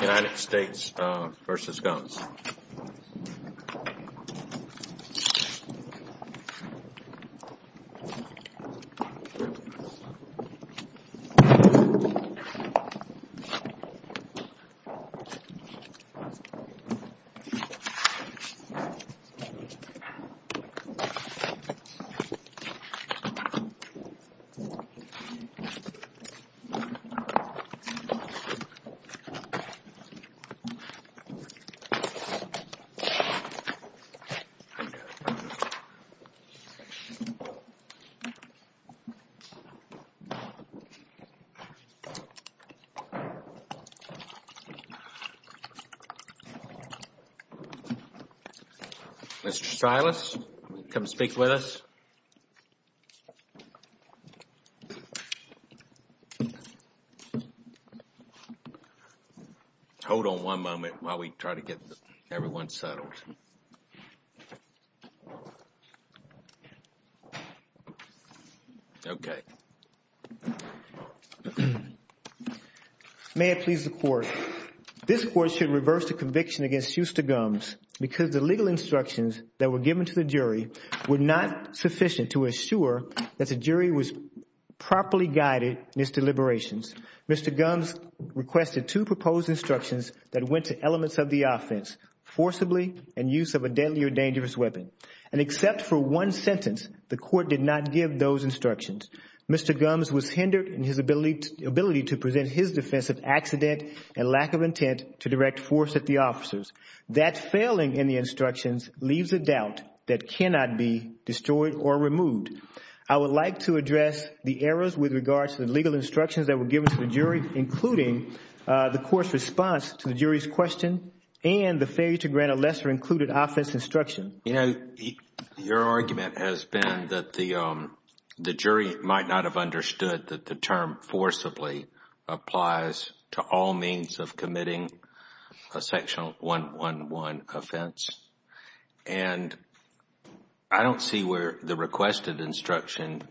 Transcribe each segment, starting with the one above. United States v. Gumbs Mr. Silas, come speak with us. Hold on one moment while we try to get everyone settled. Okay. May it please the Court. This Court should reverse the conviction against Shusta Gumbs because the legal instructions that were given to the jury were not sufficient to assure that the jury was properly guided in its deliberations. Mr. Gumbs requested two proposed instructions that went to elements of the offense, forcibly and use of a deadly or dangerous weapon. And except for one sentence, the Court did not give those instructions. Mr. Gumbs was hindered in his ability to present his defense of accident and lack of intent to direct force at the officers. That failing in the instructions leaves a doubt that cannot be destroyed or removed. I would like to address the errors with regards to the legal instructions that were given to the jury, including the Court's response to the jury's question and the failure to grant a lesser included offense instruction. Your argument has been that the jury might not have understood that the term forcibly applies to all means of committing a section 111 offense. And I don't see where the requested instruction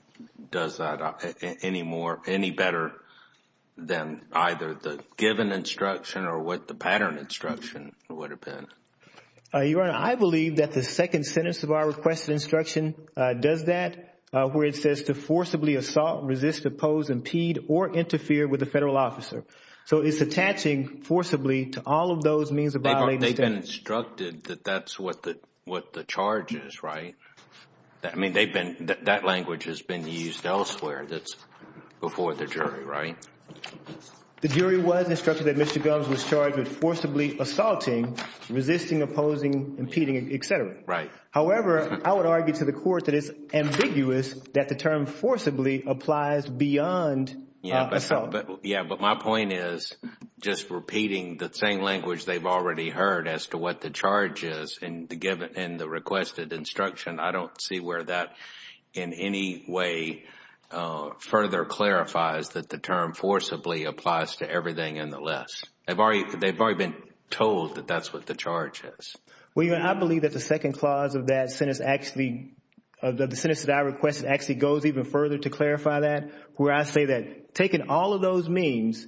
does that any better than either the given instruction or what the pattern instruction would have been. Your Honor, I believe that the second sentence of our requested instruction does that where it says to forcibly assault, resist, oppose, impede or interfere with a Federal officer. So it's attaching forcibly to all of those means of violating the statute. They've been instructed that that's what the charge is, right? I mean, that language has been used elsewhere. That's before the jury, right? The jury was instructed that Mr. Gumbs was charged with forcibly assaulting, resisting, opposing, impeding, etc. However, I would argue to the Court that it's ambiguous that the term forcibly applies beyond assault. Yeah, but my point is just repeating the same language they've already heard as to what the charge is in the requested instruction. I don't see where that in any way further clarifies that the term forcibly applies to everything in the list. They've already been told that that's what the charge is. Well, Your Honor, I believe that the second clause of that sentence actually, of the sentence that I requested actually goes even further to clarify that where I say that taking all of those means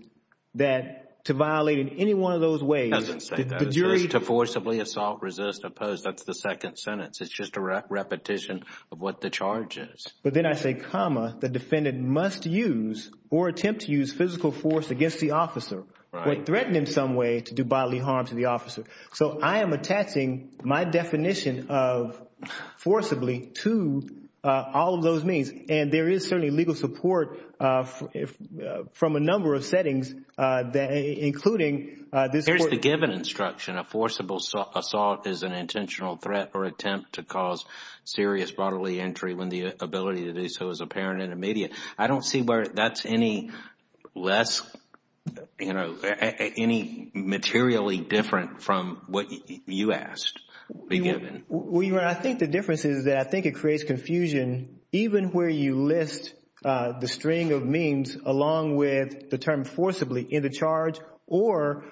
to violate in any one of those ways. It doesn't say that. It says to forcibly assault, resist, oppose. That's the second sentence. It's just a repetition of what the charge is. But then I say, comma, the defendant must use or attempt to use physical force against the officer or threaten in some way to do bodily harm to the officer. So I am attaching my definition of forcibly to all of those means. And there is certainly legal support from a number of settings, including this court. Here's the given instruction. A forcible assault is an intentional threat or attempt to cause serious bodily injury when the ability to do so is apparent and immediate. I don't see where that's any less, you know, any materially different from what you asked be given. I think the difference is that I think it creates confusion even where you list the string of means along with the term forcibly in the charge or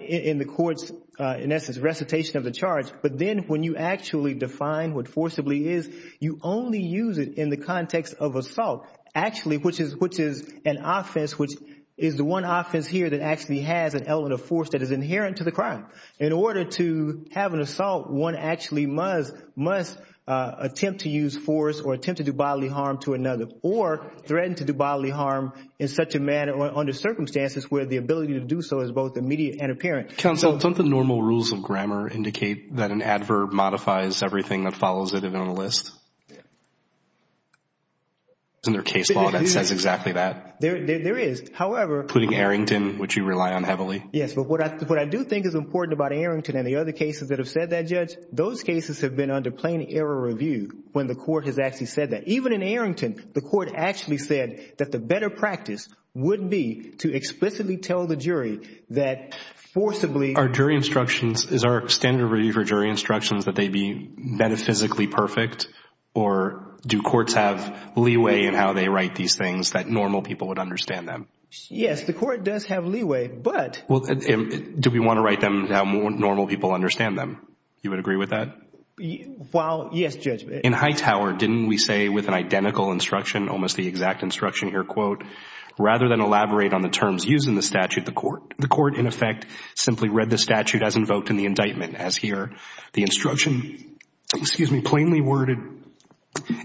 in the court's, in essence, recitation of the charge. But then when you actually define what forcibly is, you only use it in the context of assault, actually, which is an offense which is the one offense here that actually has an element of force that is inherent to the crime. In order to have an assault, one actually must attempt to use force or attempt to do bodily harm to another or threaten to do bodily harm in such a manner or under circumstances where the ability to do so is both immediate and apparent. Counsel, don't the normal rules of grammar indicate that an adverb modifies everything that follows it on a list? Isn't there a case law that says exactly that? There is. However… Including Arrington, which you rely on heavily. Yes, but what I do think is important about Arrington and the other cases that have said that, Judge, those cases have been under plain error review when the court has actually said that. Even in Arrington, the court actually said that the better practice would be to explicitly tell the jury that forcibly… Are jury instructions, is our standard review for jury instructions that they be metaphysically perfect or do courts have leeway in how they write these things that normal people would understand them? Yes, the court does have leeway, but… Well, do we want to write them how normal people understand them? You would agree with that? Well, yes, Judge. In Hightower, didn't we say with an identical instruction, almost the exact instruction here, quote, rather than elaborate on the terms used in the statute, the court… The court, in effect, simply read the statute as invoked in the indictment. As here, the instruction, excuse me, plainly worded,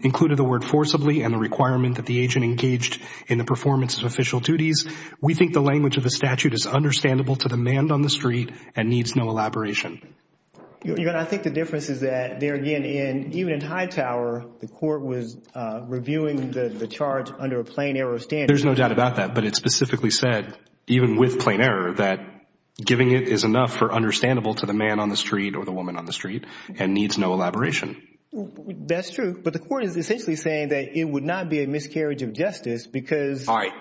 included the word forcibly and the requirement that the agent engaged in the performance of official duties. We think the language of the statute is understandable to the man on the street and needs no elaboration. I think the difference is that, there again, even in Hightower, the court was reviewing the charge under a plain error standard. There's no doubt about that, but it specifically said, even with plain error, that giving it is enough for understandable to the man on the street or the woman on the street and needs no elaboration. That's true, but the court is essentially saying that it would not be a miscarriage of justice because… All right,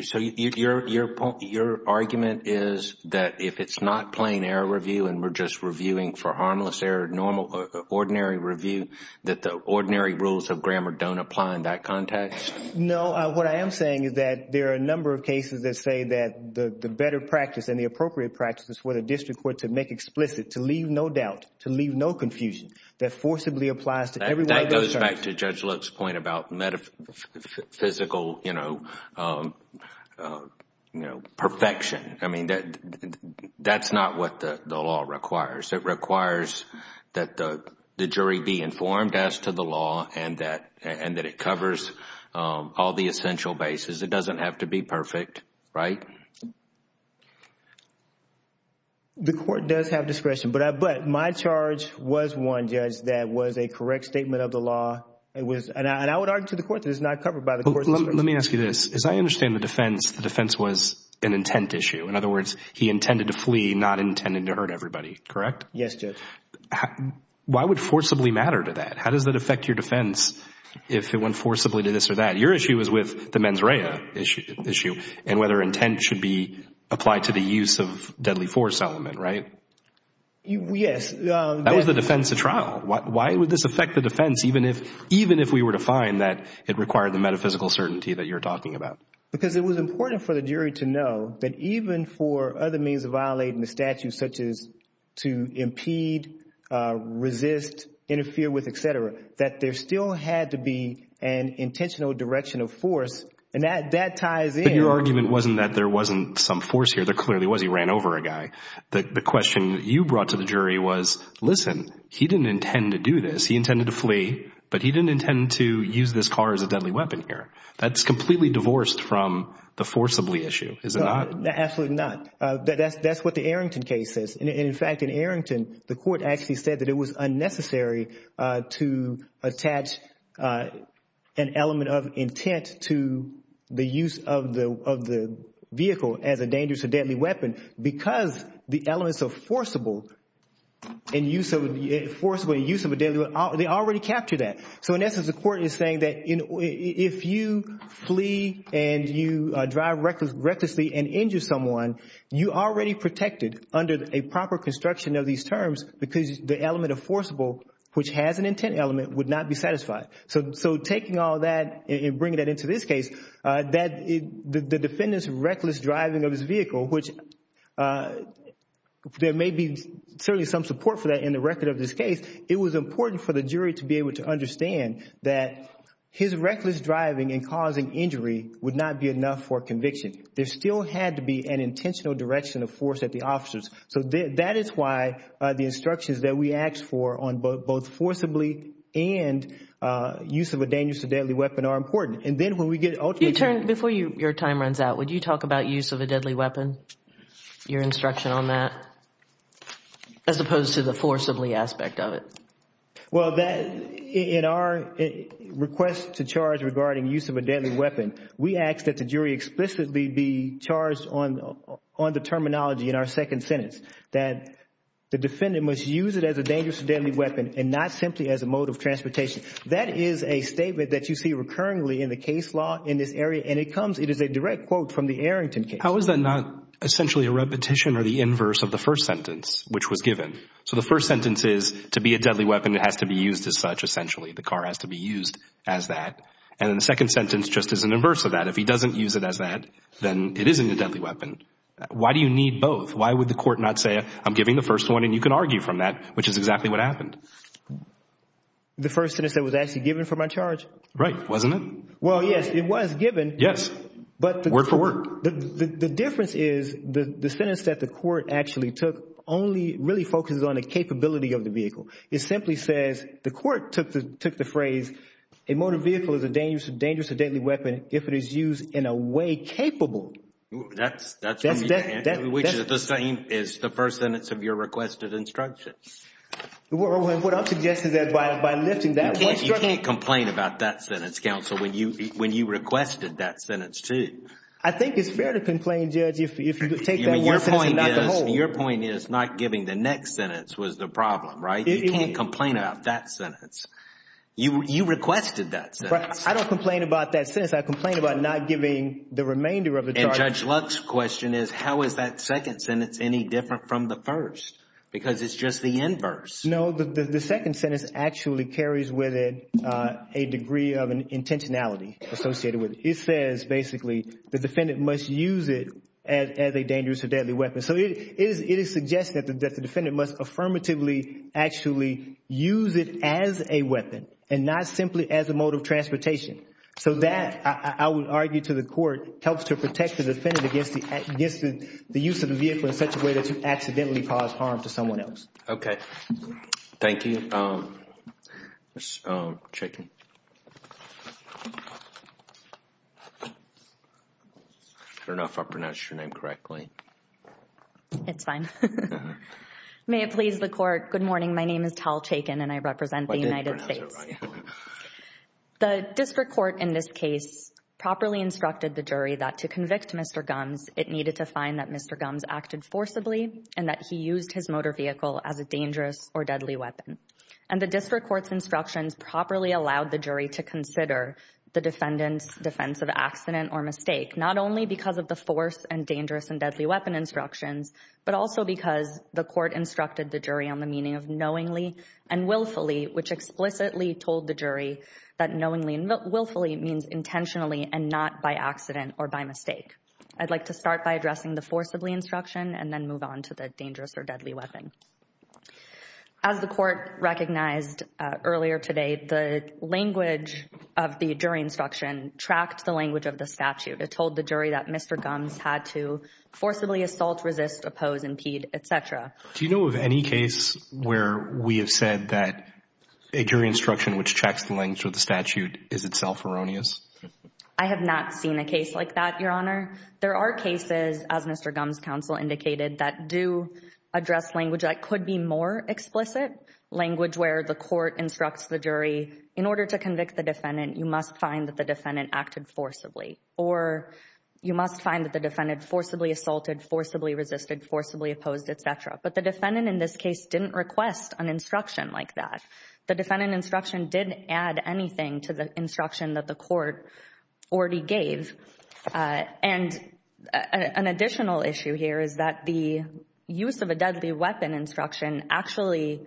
so your argument is that if it's not plain error review and we're just reviewing for harmless error, normal, ordinary review, that the ordinary rules of grammar don't apply in that context? No, what I am saying is that there are a number of cases that say that the better practice and the appropriate practice is for the district court to make explicit, to leave no doubt, to leave no confusion, that forcibly applies to every one of those charges. It goes back to Judge Luke's point about metaphysical perfection. I mean, that's not what the law requires. It requires that the jury be informed as to the law and that it covers all the essential bases. It doesn't have to be perfect, right? The court does have discretion, but my charge was one, Judge, that was a correct statement of the law. And I would argue to the court that it's not covered by the court's discretion. Let me ask you this. As I understand the defense, the defense was an intent issue. In other words, he intended to flee, not intended to hurt everybody, correct? Yes, Judge. Why would forcibly matter to that? How does that affect your defense if it went forcibly to this or that? Your issue is with the mens rea issue and whether intent should be applied to the use of deadly force element, right? Yes. That was the defense of trial. Why would this affect the defense even if we were to find that it required the metaphysical certainty that you're talking about? Because it was important for the jury to know that even for other means of violating the statute, such as to impede, resist, interfere with, et cetera, that there still had to be an intentional direction of force, and that ties in. But your argument wasn't that there wasn't some force here. There clearly was. He ran over a guy. The question you brought to the jury was, listen, he didn't intend to do this. He intended to flee, but he didn't intend to use this car as a deadly weapon here. That's completely divorced from the forcibly issue, is it not? Absolutely not. That's what the Arrington case says. In fact, in Arrington, the court actually said that it was unnecessary to attach an element of intent to the use of the vehicle as a dangerous or deadly weapon because the elements of forcible and use of a deadly weapon, they already captured that. So in essence, the court is saying that if you flee and you drive recklessly and injure someone, you are already protected under a proper construction of these terms because the element of forcible, which has an intent element, would not be satisfied. So taking all that and bringing that into this case, the defendant's reckless driving of his vehicle, which there may be certainly some support for that in the record of this case, it was important for the jury to be able to understand that his reckless driving and causing injury would not be enough for conviction. There still had to be an intentional direction of force at the officers. So that is why the instructions that we asked for on both forcibly and use of a dangerous or deadly weapon are important. And then when we get ultimately to— Well, in our request to charge regarding use of a deadly weapon, we ask that the jury explicitly be charged on the terminology in our second sentence, that the defendant must use it as a dangerous or deadly weapon and not simply as a mode of transportation. That is a statement that you see recurrently in the case law in this area, and it comes—it is a direct quote from the Arrington case. How is that not essentially a repetition or the inverse of the first sentence which was given? So the first sentence is, to be a deadly weapon, it has to be used as such, essentially. The car has to be used as that. And then the second sentence just is an inverse of that. If he doesn't use it as that, then it isn't a deadly weapon. Why do you need both? Why would the court not say, I'm giving the first one, and you can argue from that, which is exactly what happened? The first sentence that was actually given for my charge? Right. Wasn't it? Well, yes, it was given. Yes. Word for word. The difference is the sentence that the court actually took only really focuses on the capability of the vehicle. It simply says the court took the phrase, a motor vehicle is a dangerous or deadly weapon if it is used in a way capable. That's the same as the first sentence of your requested instruction. What I'm suggesting is that by lifting that one— You can't complain about that sentence, counsel, when you requested that sentence, too. I think it's fair to complain, Judge, if you take that one sentence and not the whole. Your point is not giving the next sentence was the problem, right? You can't complain about that sentence. You requested that sentence. I don't complain about that sentence. I complain about not giving the remainder of the charge. And Judge Luck's question is, how is that second sentence any different from the first? Because it's just the inverse. No, the second sentence actually carries with it a degree of intentionality associated with it. It says, basically, the defendant must use it as a dangerous or deadly weapon. So it is suggested that the defendant must affirmatively actually use it as a weapon and not simply as a mode of transportation. So that, I would argue to the court, helps to protect the defendant against the use of the vehicle in such a way that you accidentally cause harm to someone else. Okay. Thank you. Ms. Chaykin. I don't know if I pronounced your name correctly. It's fine. May it please the court, good morning. My name is Tal Chaykin, and I represent the United States. I didn't pronounce it right. The district court in this case properly instructed the jury that to convict Mr. Gumbs, it needed to find that Mr. Gumbs acted forcibly and that he used his motor vehicle as a dangerous or deadly weapon. And the district court's instructions properly allowed the jury to consider the defendant's defense of accident or mistake, not only because of the force and dangerous and deadly weapon instructions, but also because the court instructed the jury on the meaning of knowingly and willfully, which explicitly told the jury that knowingly and willfully means intentionally and not by accident or by mistake. I'd like to start by addressing the forcibly instruction and then move on to the dangerous or deadly weapon. As the court recognized earlier today, the language of the jury instruction tracked the language of the statute. It told the jury that Mr. Gumbs had to forcibly assault, resist, oppose, impede, etc. Do you know of any case where we have said that a jury instruction which tracks the language of the statute is itself erroneous? I have not seen a case like that, Your Honor. There are cases, as Mr. Gumbs' counsel indicated, that do address language that could be more explicit, language where the court instructs the jury, in order to convict the defendant, you must find that the defendant acted forcibly, or you must find that the defendant forcibly assaulted, forcibly resisted, forcibly opposed, etc. But the defendant in this case didn't request an instruction like that. The defendant instruction didn't add anything to the instruction that the court already gave. And an additional issue here is that the use of a deadly weapon instruction actually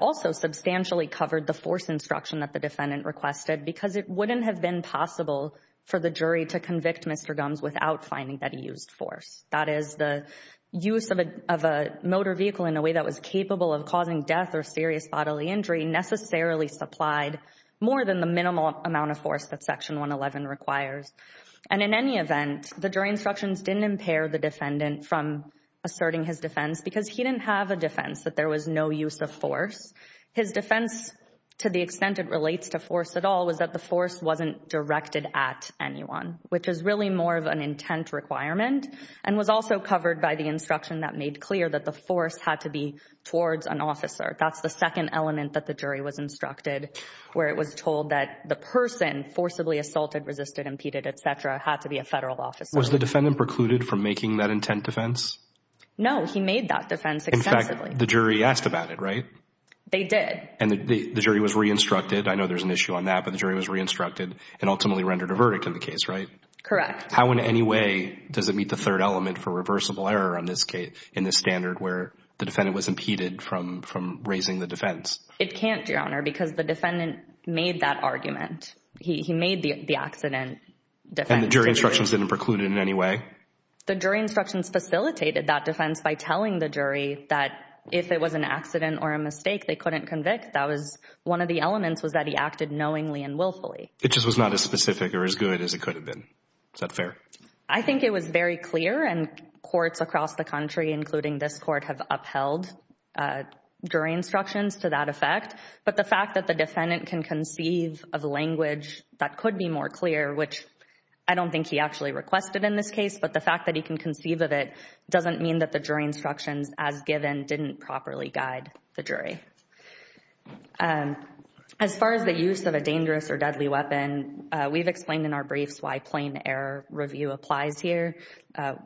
also substantially covered the force instruction that the defendant requested, because it wouldn't have been possible for the jury to convict Mr. Gumbs without finding that he used force. That is, the use of a motor vehicle in a way that was capable of causing death or serious bodily injury necessarily supplied more than the minimal amount of force that Section 111 requires. And in any event, the jury instructions didn't impair the defendant from asserting his defense because he didn't have a defense that there was no use of force. His defense, to the extent it relates to force at all, was that the force wasn't directed at anyone, which is really more of an intent requirement. And was also covered by the instruction that made clear that the force had to be towards an officer. That's the second element that the jury was instructed, where it was told that the person forcibly assaulted, resisted, impeded, etc. had to be a federal officer. Was the defendant precluded from making that intent defense? No, he made that defense extensively. In fact, the jury asked about it, right? They did. And the jury was re-instructed. I know there's an issue on that, but the jury was re-instructed and ultimately rendered a verdict in the case, right? Correct. How in any way does it meet the third element for reversible error in this standard where the defendant was impeded from raising the defense? It can't, Your Honor, because the defendant made that argument. He made the accident defense. And the jury instructions didn't preclude it in any way? The jury instructions facilitated that defense by telling the jury that if it was an accident or a mistake, they couldn't convict. That was one of the elements was that he acted knowingly and willfully. It just was not as specific or as good as it could have been. Is that fair? I think it was very clear, and courts across the country, including this court, have upheld jury instructions to that effect. But the fact that the defendant can conceive of language that could be more clear, which I don't think he actually requested in this case, but the fact that he can conceive of it doesn't mean that the jury instructions as given didn't properly guide the jury. As far as the use of a dangerous or deadly weapon, we've explained in our briefs why plain error review applies here.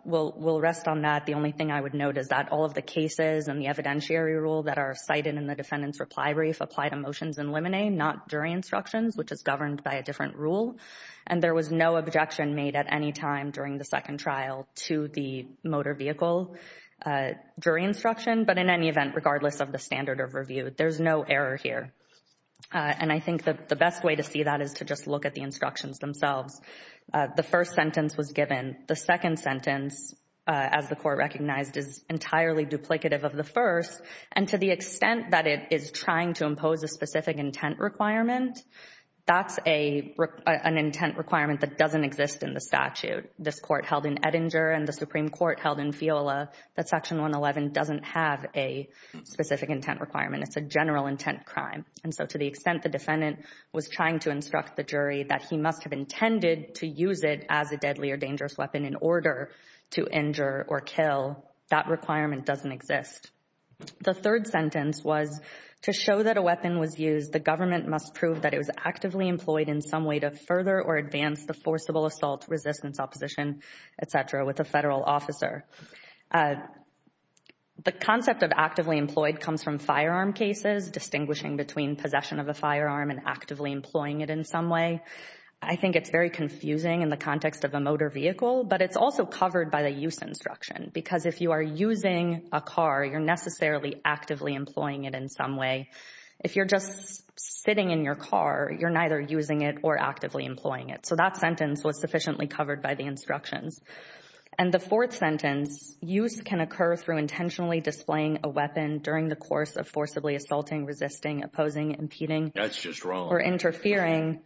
We'll rest on that. The only thing I would note is that all of the cases and the evidentiary rule that are cited in the defendant's reply brief apply to motions in limine, not jury instructions, which is governed by a different rule. And there was no objection made at any time during the second trial to the motor vehicle jury instruction. But in any event, regardless of the standard of review, there's no error here. And I think the best way to see that is to just look at the instructions themselves. The first sentence was given. The second sentence, as the court recognized, is entirely duplicative of the first. And to the extent that it is trying to impose a specific intent requirement, that's an intent requirement that doesn't exist in the statute. This court held in Edinger and the Supreme Court held in FIOLA that Section 111 doesn't have a specific intent requirement. It's a general intent crime. And so to the extent the defendant was trying to instruct the jury that he must have intended to use it as a deadly or dangerous weapon in order to injure or kill, that requirement doesn't exist. The third sentence was, to show that a weapon was used, the government must prove that it was actively employed in some way to further or advance the forcible assault, resistance, opposition, et cetera, with a federal officer. The concept of actively employed comes from firearm cases, distinguishing between possession of a firearm and actively employing it in some way. I think it's very confusing in the context of a motor vehicle. But it's also covered by the use instruction. Because if you are using a car, you're necessarily actively employing it in some way. If you're just sitting in your car, you're neither using it or actively employing it. So that sentence was sufficiently covered by the instructions. And the fourth sentence, use can occur through intentionally displaying a weapon during the course of forcibly assaulting, resisting, opposing, impeding. That's just wrong. Or interfering,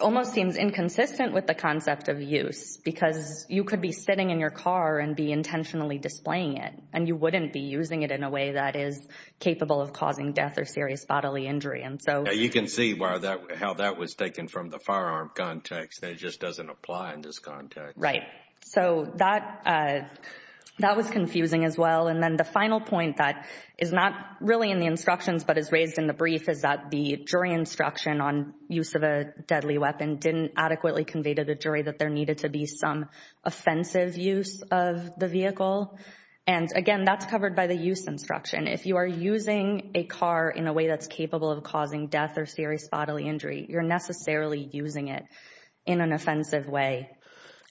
almost seems inconsistent with the concept of use. Because you could be sitting in your car and be intentionally displaying it. And you wouldn't be using it in a way that is capable of causing death or serious bodily injury. You can see how that was taken from the firearm context. It just doesn't apply in this context. Right. So that was confusing as well. And then the final point that is not really in the instructions but is raised in the brief is that the jury instruction on use of a deadly weapon didn't adequately convey to the jury that there needed to be some offensive use of the vehicle. And, again, that's covered by the use instruction. If you are using a car in a way that's capable of causing death or serious bodily injury, you're necessarily using it in an offensive way.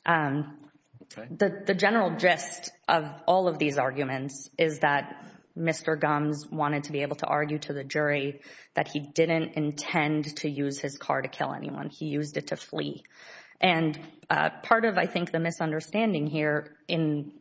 The general gist of all of these arguments is that Mr. Gumbs wanted to be able to argue to the jury that he didn't intend to use his car to kill anyone. And part of, I think, the misunderstanding here in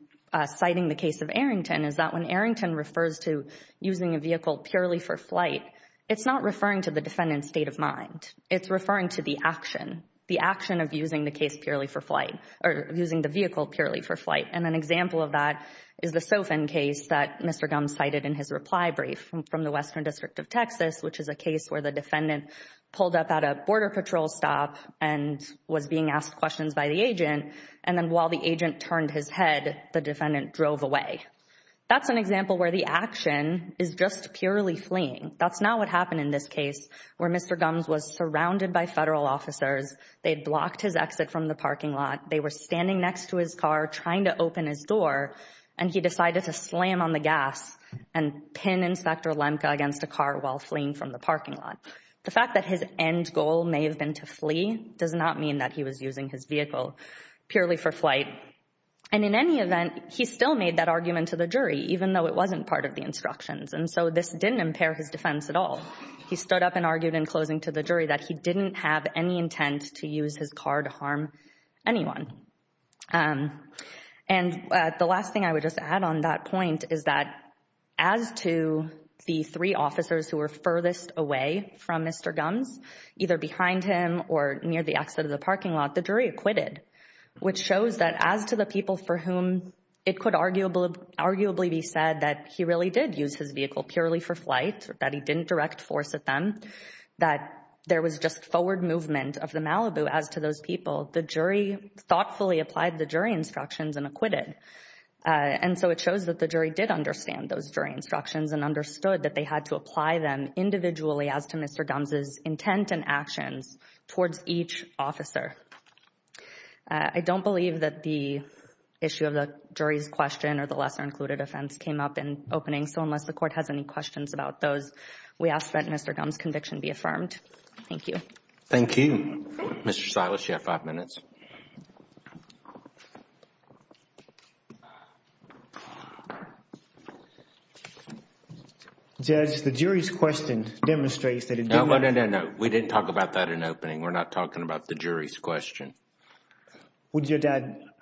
citing the case of Arrington is that when Arrington refers to using a vehicle purely for flight, it's not referring to the defendant's state of mind. It's referring to the action, the action of using the case purely for flight or using the vehicle purely for flight. And an example of that is the Sofin case that Mr. Gumbs cited in his reply brief from the Western District of Texas, which is a case where the defendant pulled up at a Border Patrol stop and was being asked questions by the agent. And then while the agent turned his head, the defendant drove away. That's an example where the action is just purely fleeing. That's not what happened in this case where Mr. Gumbs was surrounded by federal officers. They had blocked his exit from the parking lot. They were standing next to his car trying to open his door, and he decided to slam on the gas and pin Inspector Lemke against a car while fleeing from the parking lot. The fact that his end goal may have been to flee does not mean that he was using his vehicle purely for flight. And in any event, he still made that argument to the jury, even though it wasn't part of the instructions. And so this didn't impair his defense at all. He stood up and argued in closing to the jury that he didn't have any intent to use his car to harm anyone. And the last thing I would just add on that point is that as to the three officers who were furthest away from Mr. Gumbs, either behind him or near the exit of the parking lot, the jury acquitted, which shows that as to the people for whom it could arguably be said that he really did use his vehicle purely for flight, that he didn't direct force at them, that there was just forward movement of the Malibu as to those people, the jury thoughtfully applied the jury instructions and acquitted. And so it shows that the jury did understand those jury instructions and understood that they had to apply them individually as to Mr. Gumbs' intent and actions towards each officer. I don't believe that the issue of the jury's question or the lesser included offense came up in opening. So unless the court has any questions about those, we ask that Mr. Gumbs' conviction be affirmed. Thank you. Thank you. Mr. Silas, you have five minutes. Judge, the jury's question demonstrates that it did not— No, no, no, no, no. We didn't talk about that in opening. We're not talking about the jury's question.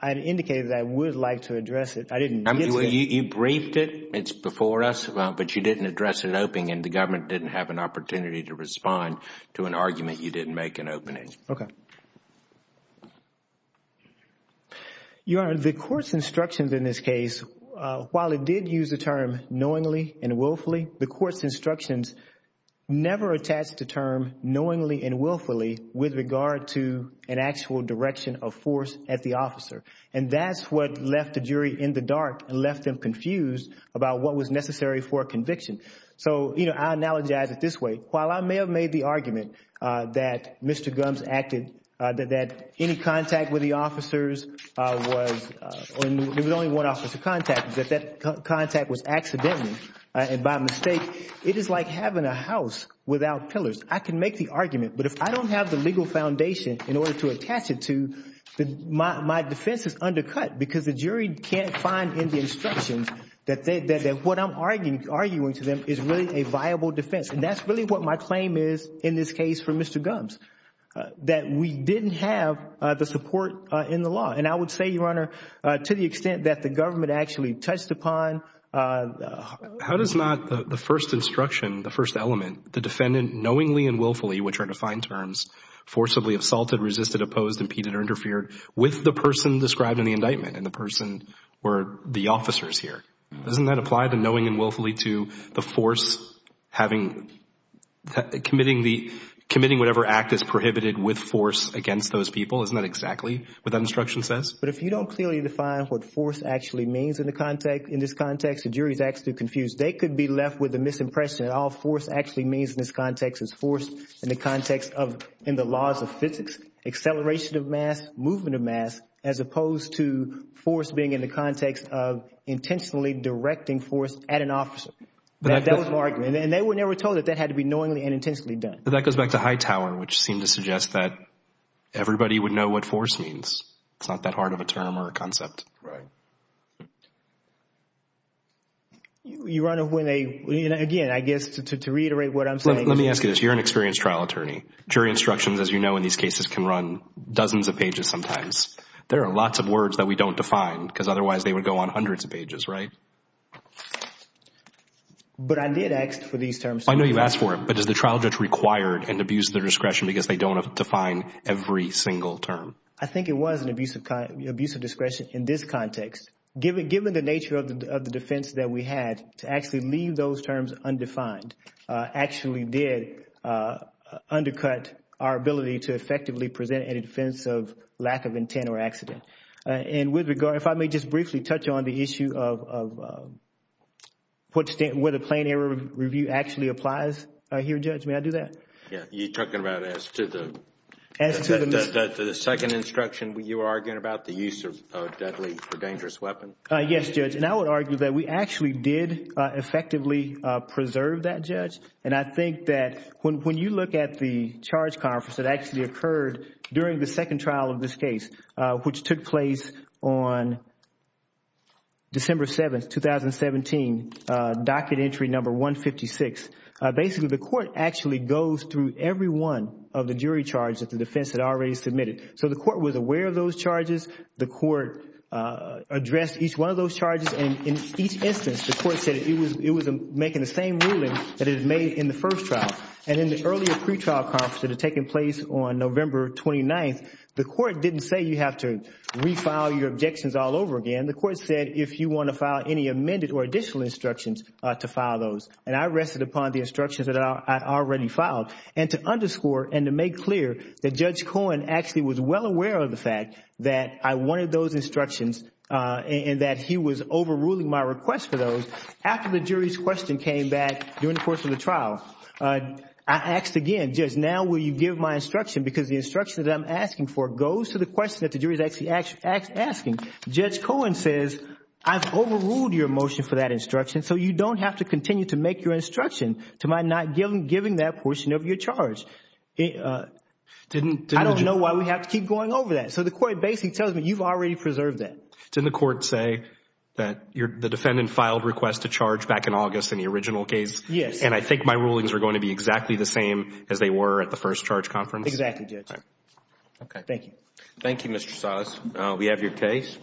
I indicated that I would like to address it. I didn't. You briefed it. It's before us, but you didn't address it in opening and the government didn't have an opportunity to respond to an argument you didn't make in opening. Okay. Your Honor, the court's instructions in this case, while it did use the term knowingly and willfully, the court's instructions never attached the term knowingly and willfully with regard to an actual direction of force at the officer. And that's what left the jury in the dark and left them confused about what was necessary for a conviction. So, you know, I analogize it this way. While I may have made the argument that Mr. Gumbs acted—that any contact with the officers was—there was only one officer contacted, that that contact was accidental and by mistake, it is like having a house without pillars. I can make the argument, but if I don't have the legal foundation in order to attach it to, my defense is undercut because the jury can't find in the instructions that what I'm arguing to them is really a viable defense. And that's really what my claim is in this case for Mr. Gumbs, that we didn't have the support in the law. And I would say, Your Honor, to the extent that the government actually touched upon— How does not the first instruction, the first element, the defendant knowingly and willfully, which are defined terms, forcibly assaulted, resisted, opposed, impeded, or interfered with the person described in the indictment and the person were the officers here? Doesn't that apply to knowingly and willfully to the force having—committing whatever act is prohibited with force against those people? Isn't that exactly what that instruction says? But if you don't clearly define what force actually means in this context, the jury is actually confused. They could be left with a misimpression that all force actually means in this context is force in the context of, in the laws of physics, acceleration of mass, movement of mass, as opposed to force being in the context of intentionally directing force at an officer. That was my argument. And they were never told that that had to be knowingly and intentionally done. But that goes back to Hightower, which seemed to suggest that everybody would know what force means. It's not that hard of a term or a concept. Right. You run it when they—again, I guess to reiterate what I'm saying— Let me ask you this. You're an experienced trial attorney. Jury instructions, as you know in these cases, can run dozens of pages sometimes. There are lots of words that we don't define because otherwise they would go on hundreds of pages, right? But I did ask for these terms. I know you've asked for them. But is the trial judge required and abused their discretion because they don't define every single term? I think it was an abuse of discretion in this context, given the nature of the defense that we had to actually leave those terms undefined actually did undercut our ability to effectively present any defense of lack of intent or accident. And with regard, if I may just briefly touch on the issue of where the plain error review actually applies here, Judge. May I do that? You're talking about as to the second instruction you were arguing about, the use of a deadly or dangerous weapon? Yes, Judge. And I would argue that we actually did effectively preserve that, Judge. And I think that when you look at the charge conference that actually occurred during the second trial of this case, which took place on December 7, 2017, docket entry number 156, basically the court actually goes through every one of the jury charges that the defense had already submitted. So the court was aware of those charges. The court addressed each one of those charges. And in each instance, the court said it was making the same ruling that it had made in the first trial. And in the earlier pretrial conference that had taken place on November 29, the court didn't say you have to refile your objections all over again. The court said if you want to file any amended or additional instructions to file those. And I rested upon the instructions that I already filed. And to underscore and to make clear that Judge Cohen actually was well aware of the fact that I wanted those instructions and that he was overruling my request for those, after the jury's question came back during the course of the trial, I asked again, Judge, now will you give my instruction? Because the instruction that I'm asking for goes to the question that the jury is actually asking. Judge Cohen says I've overruled your motion for that instruction, so you don't have to continue to make your instruction to my not giving that portion of your charge. I don't know why we have to keep going over that. So the court basically tells me you've already preserved that. Didn't the court say that the defendant filed a request to charge back in August in the original case? Yes. And I think my rulings are going to be exactly the same as they were at the first charge conference? Exactly, Judge. Okay. Thank you. Thank you, Mr. Salas. We have your case.